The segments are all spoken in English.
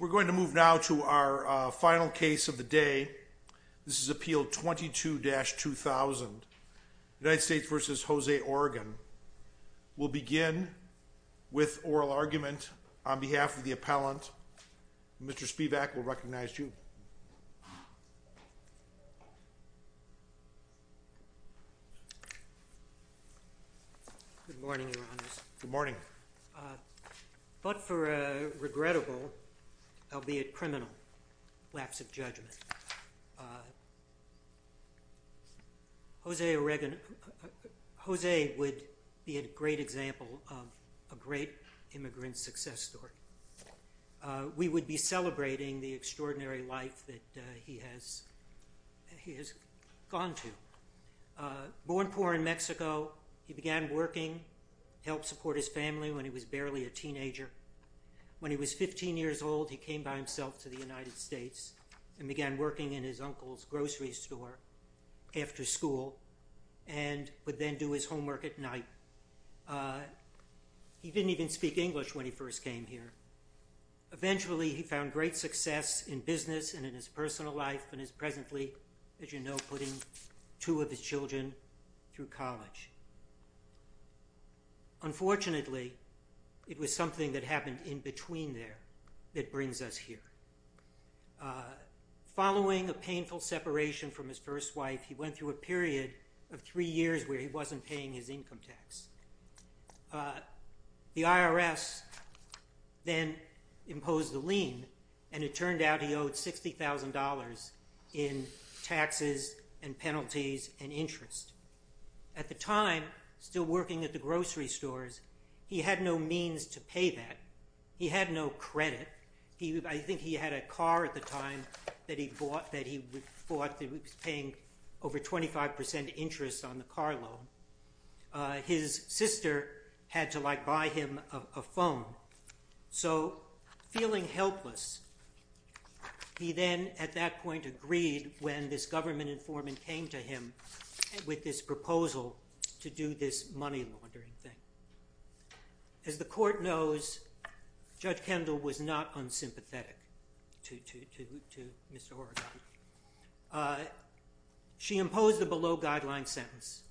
We're going to move now to our final case of the day. This is Appeal 22-2000, United States v. Jose Oregon. We'll begin with oral argument on behalf of the appellant. Mr. Spivak, we'll recognize you. Good morning, Your Honors. Good morning. But for a regrettable, albeit criminal, lapse of judgment, Jose would be a great example of a great immigrant success story. We would be celebrating the extraordinary life that he has gone through. Born poor in Mexico, he began working, helped support his family when he was barely a teenager. When he was 15 years old, he came by himself to the United States and began working in his uncle's grocery store after school and would then do his homework at night. He didn't even speak English when he first came here. Eventually, he found great success in business and in his personal life and is presently, as you know, putting two of his children through college. Unfortunately, it was something that happened in between there that brings us here. Following a painful separation from his first wife, he went through a period of three years where he wasn't paying his income tax. The IRS then imposed a lien and it turned out he owed $60,000 in taxes and penalties and interest. At the time, still working at the grocery stores, he had no means to pay that. He had no credit. I think he had a car at the time that he bought that he was paying over 25% interest on the car loan. His sister had to buy him a phone. Feeling helpless, he then at that point agreed when this government informant came to him with this proposal to do this money laundering thing. As the court knows, Judge Kendall was not unsympathetic to Mr. Horgan. She imposed a below-guideline sentence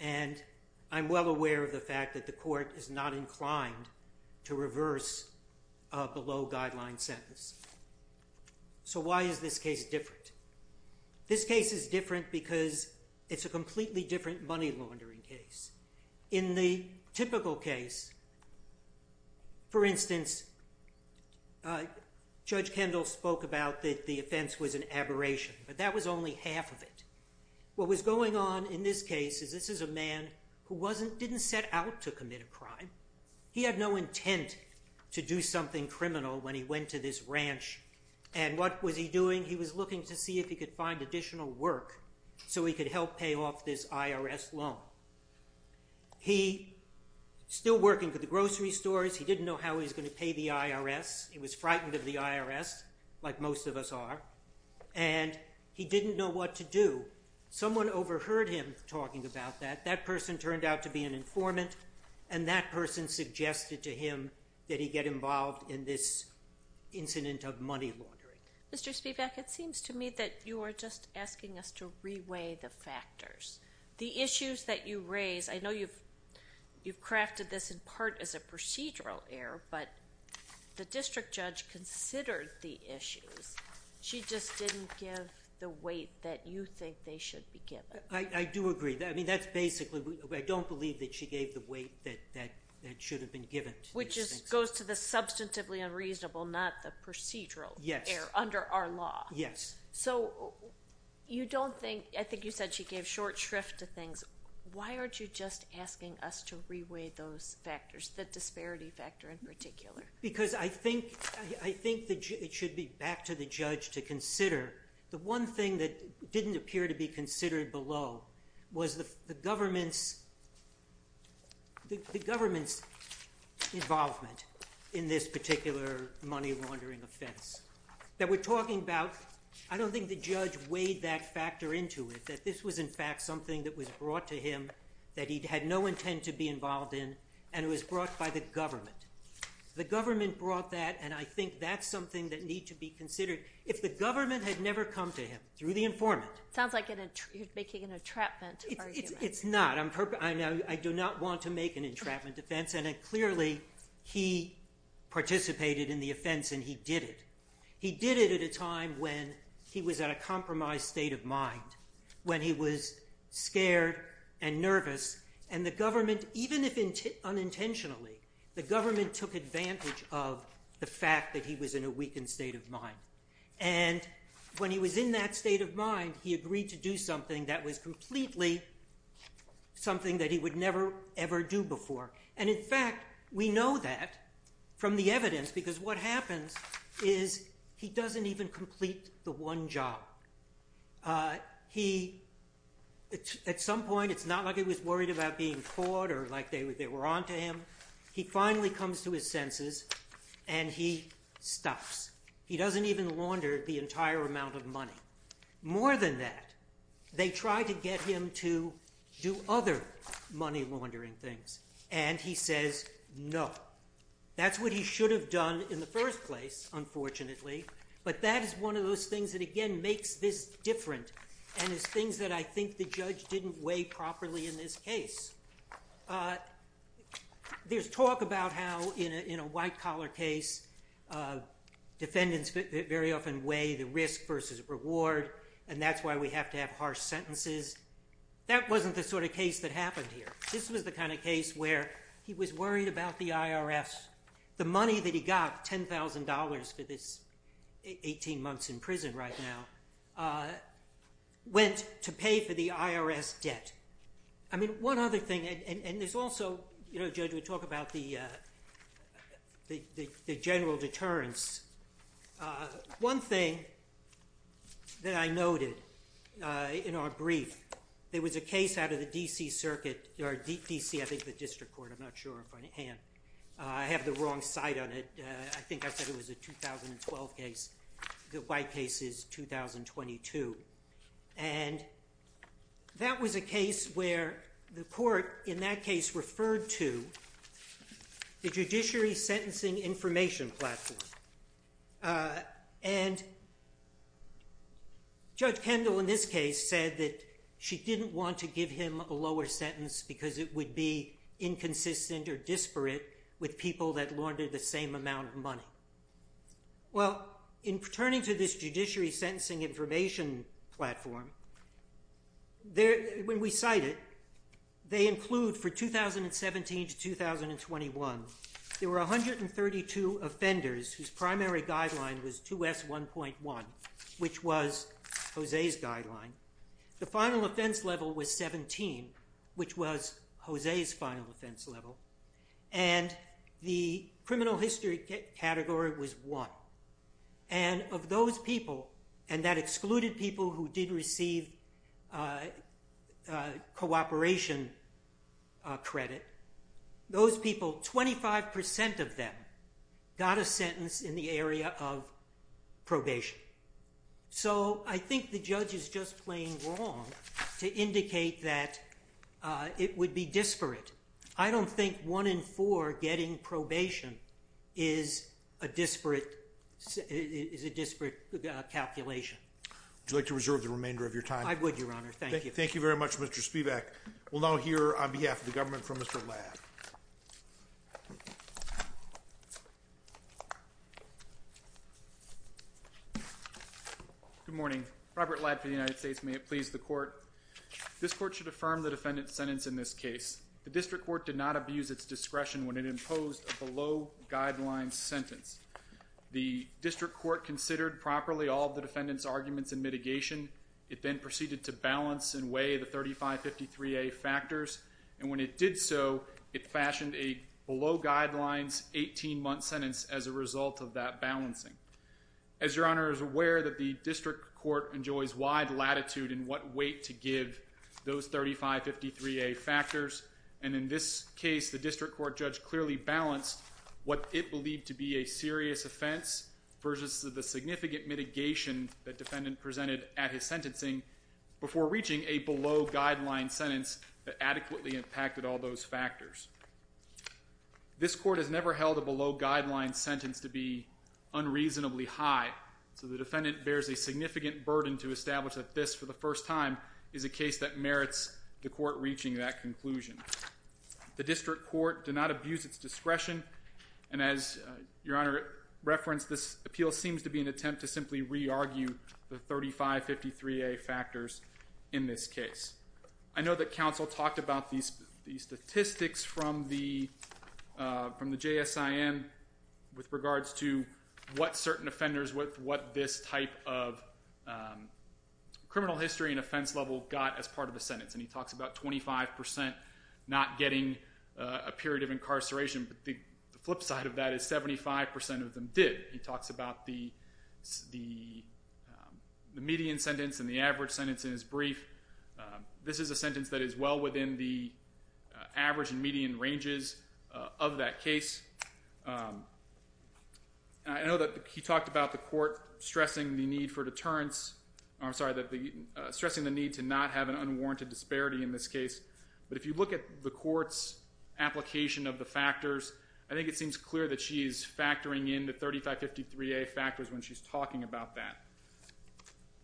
and I'm well aware of the fact that the court is not inclined to reverse a below-guideline sentence. So why is this case different? This case is different because it's a completely different money laundering case. In the typical case, for instance, Judge Kendall spoke about that the offense was an aberration, but that was only half of it. What was going on in this case is this is a man who didn't set out to commit a crime. He had no intent to do something criminal when he went to this ranch and what was he doing? He was looking to see if he could find additional work so he could help pay off this IRS loan. He was still working for the grocery stores. He didn't know how he was going to pay the IRS. He was frightened of the IRS, like most of us are, and he didn't know what to do. Someone overheard him talking about that. That person turned out to be an informant and that person suggested to him that he get involved in this incident of money laundering. Mr. Spivak, it seems to me that you are just asking us to re-weigh the factors. The issues that you raise, I know you've crafted this in part as a procedural error, but the district judge considered the issues. She just didn't give the weight that you think they should be given. I do agree. I don't believe that she gave the weight that should have been given. Which goes to the substantively unreasonable, not the procedural error under our law. Yes. I think you said she gave short shrift to things. Why aren't you just asking us to re-weigh those factors, the disparity factor in particular? I think it should be back to the judge to consider. The one thing that didn't appear to be considered below was the government's involvement in this particular money laundering offense. I don't think the judge weighed that factor into it, that this was in fact something that was brought to him that he had no intent to be involved in and it was brought by the government. The government brought that and I think that's something that needs to be considered. If the government had never come to him through the informant... It sounds like you're making an entrapment argument. It's not. I do not want to make an entrapment defense and clearly he participated in the offense and he did it. He did it at a time when he was at a compromised state of mind, when he was scared and nervous and the government, even if unintentionally, the government took advantage of the fact that he was in a weakened state of mind. When he was in that state of mind, he agreed to do something that was completely something that he would never ever do before. In fact, we know that from the evidence because what happens is he doesn't even complete the one job. At some point, it's not like he was worried about being caught or like they were onto him. He finally comes to his senses and he stops. He doesn't even launder the entire amount of money. More than that, they try to get him to do other money laundering things and he says no. That's what he should have done in the first place, unfortunately, but that is one of those things that again makes this different and is things that I think the judge didn't weigh properly in this case. There's talk about how in a white collar case, defendants very often weigh the risk versus reward and that's why we have to have harsh sentences. That wasn't the sort of case that happened here. This was the kind of case where he was worried about the IRS. The money that he got, $10,000 for this 18 months in prison right now, went to pay for the IRS debt. One other thing and there's also, Judge, we talk about the general deterrence. One thing that I noted in our brief, there was a case out of the D.C. Circuit or D.C., I think the District Court. I'm not sure if I have the wrong site on it. I think I said it was a 2012 case. The white case is 2022. That was a case where the court in that case referred to the Judiciary Sentencing Information Platform. Judge Kendall in this case said that she didn't want to give him a lower sentence because it would be inconsistent or disparate with people that laundered the same amount of money. Well, in returning to this Judiciary Sentencing Information Platform, when we cite it, they include for 2017 to 2021, there were 132 offenders whose primary guideline was 2S1.1, which was Jose's guideline. The final offense level was 17, which was Jose's final offense level. And the criminal history category was 1. And of those people, and that excluded people who did receive cooperation credit, those people, 25% of them, got a sentence in the area of probation. So I think the judge is just plain wrong to indicate that it would be disparate. I don't think one in four getting probation is a disparate calculation. Would you like to reserve the remainder of your time? I would, Your Honor. Thank you. Thank you very much, Mr. Spivak. We'll now hear on behalf of the government from Mr. Ladd. Good morning. Robert Ladd for the United States. May it please the court. This court should affirm the defendant's sentence in this case. The district court did not abuse its discretion when it imposed a below-guidelines sentence. The district court considered properly all of the defendant's arguments and mitigation. It then proceeded to balance and weigh the 3553A factors. And when it did so, it fashioned a below-guidelines 18-month sentence as a result of that balancing. As Your Honor is aware that the district court enjoys wide latitude in what weight to give those 3553A factors. And in this case, the district court judge clearly balanced what it believed to be a serious offense versus the significant mitigation that defendant presented at his sentencing before reaching a below-guidelines sentence that adequately impacted all those factors. This court has never held a below-guidelines sentence to be unreasonably high. So the defendant bears a significant burden to establish that this, for the first time, is a case that merits the court reaching that conclusion. The district court did not abuse its discretion. And as Your Honor referenced, this appeal seems to be an attempt to simply re-argue the 3553A factors in this case. I know that counsel talked about these statistics from the JSIN with regards to what certain offenders, what this type of criminal history and offense level got as part of the sentence. And he talks about 25% not getting a period of incarceration. But the flip side of that is 75% of them did. He talks about the median sentence and the average sentence in his brief. This is a sentence that is well within the average and median ranges of that case. I know that he talked about the court stressing the need for deterrence. I'm sorry, stressing the need to not have an unwarranted disparity in this case. But if you look at the court's application of the factors, I think it seems clear that she's factoring in the 3553A factors when she's talking about that.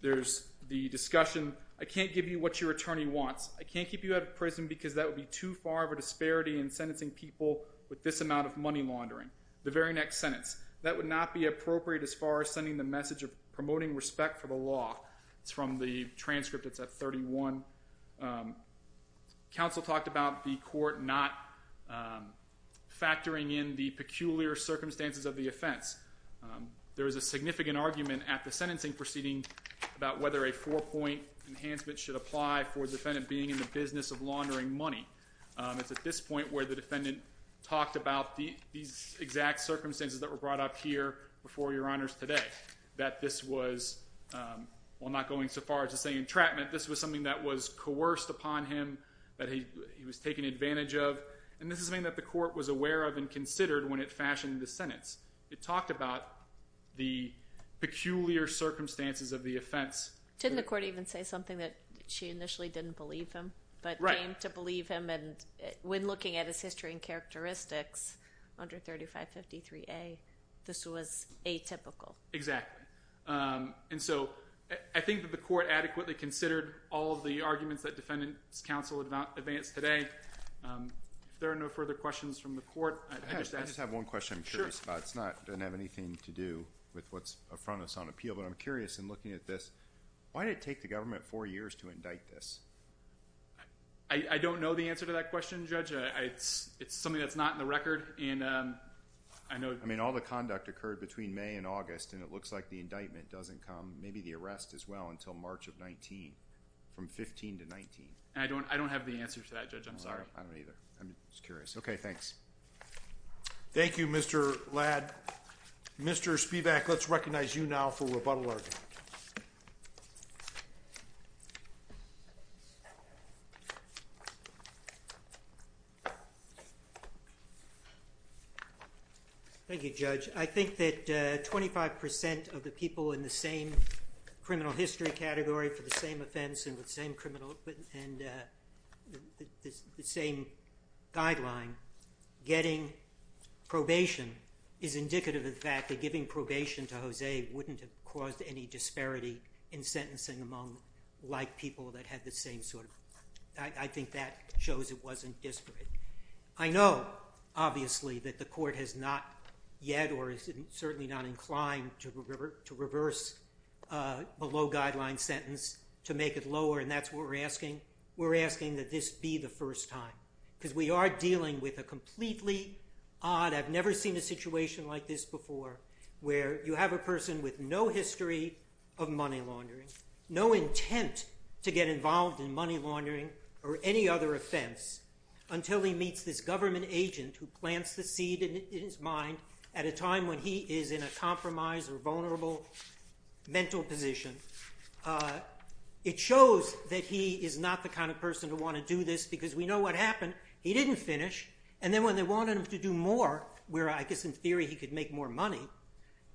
There's the discussion, I can't give you what your attorney wants. I can't keep you out of prison because that would be too far of a disparity in sentencing people with this amount of money laundering. The very next sentence, that would not be appropriate as far as sending the message of promoting respect for the law. It's from the transcript. It's at 31. Counsel talked about the court not factoring in the peculiar circumstances of the offense. There is a significant argument at the sentencing proceeding about whether a four-point enhancement should apply for the defendant being in the business of laundering money. It's at this point where the defendant talked about these exact circumstances that were brought up here before your honors today. That this was, while not going so far as to say entrapment, this was something that was coerced upon him, that he was taken advantage of. And this is something that the court was aware of and considered when it fashioned the sentence. It talked about the peculiar circumstances of the offense. Didn't the court even say something that she initially didn't believe him, but came to believe him? When looking at his history and characteristics under 3553A, this was atypical. Exactly. And so, I think that the court adequately considered all of the arguments that Defendant's Counsel advanced today. If there are no further questions from the court, I just have one question I'm curious about. It doesn't have anything to do with what's in front of us on appeal, but I'm curious in looking at this. Why did it take the government four years to indict this? I don't know the answer to that question, Judge. It's something that's not in the record. I mean, all the conduct occurred between May and August, and it looks like the indictment doesn't come, maybe the arrest as well, until March of 19. From 15 to 19. I don't have the answer to that, Judge. I'm sorry. I don't either. I'm just curious. Okay, thanks. Thank you, Mr. Ladd. Mr. Spivak, let's recognize you now for rebuttal argument. Thank you, Judge. I think that 25 percent of the people in the same criminal history category for the same offense and the same guideline getting probation is indicative of the fact that giving probation to José wouldn't have caused any disparity in sentencing among like people that had the same sort of... I think that shows it wasn't disparate. I know, obviously, that the court has not yet or is certainly not inclined to reverse a low-guideline sentence to make it lower, and that's what we're asking. We're asking that this be the first time, because we are dealing with a completely odd... of money laundering, no intent to get involved in money laundering or any other offense until he meets this government agent who plants the seed in his mind at a time when he is in a compromised or vulnerable mental position. It shows that he is not the kind of person to want to do this because we know what happened. He didn't finish. And then when they wanted him to do more, where I guess in theory he could make more money,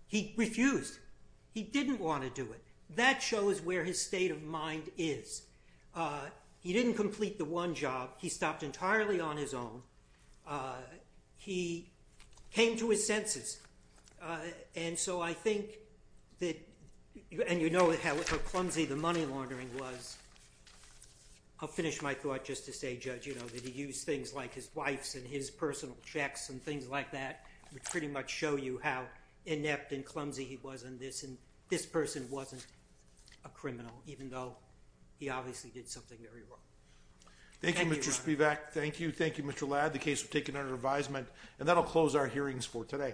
he refused. He didn't want to do it. That shows where his state of mind is. He didn't complete the one job. He stopped entirely on his own. He came to his senses. And so I think that... And you know how clumsy the money laundering was. I'll finish my thought just to say, Judge, you know, that he used things like his wife's and his personal checks and things like that, which pretty much show you how inept and clumsy he was in this. And this person wasn't a criminal, even though he obviously did something very wrong. Thank you, Your Honor. Thank you, Mr. Spivak. Thank you. Thank you, Mr. Ladd. We have the case taken under advisement, and that will close our hearings for today.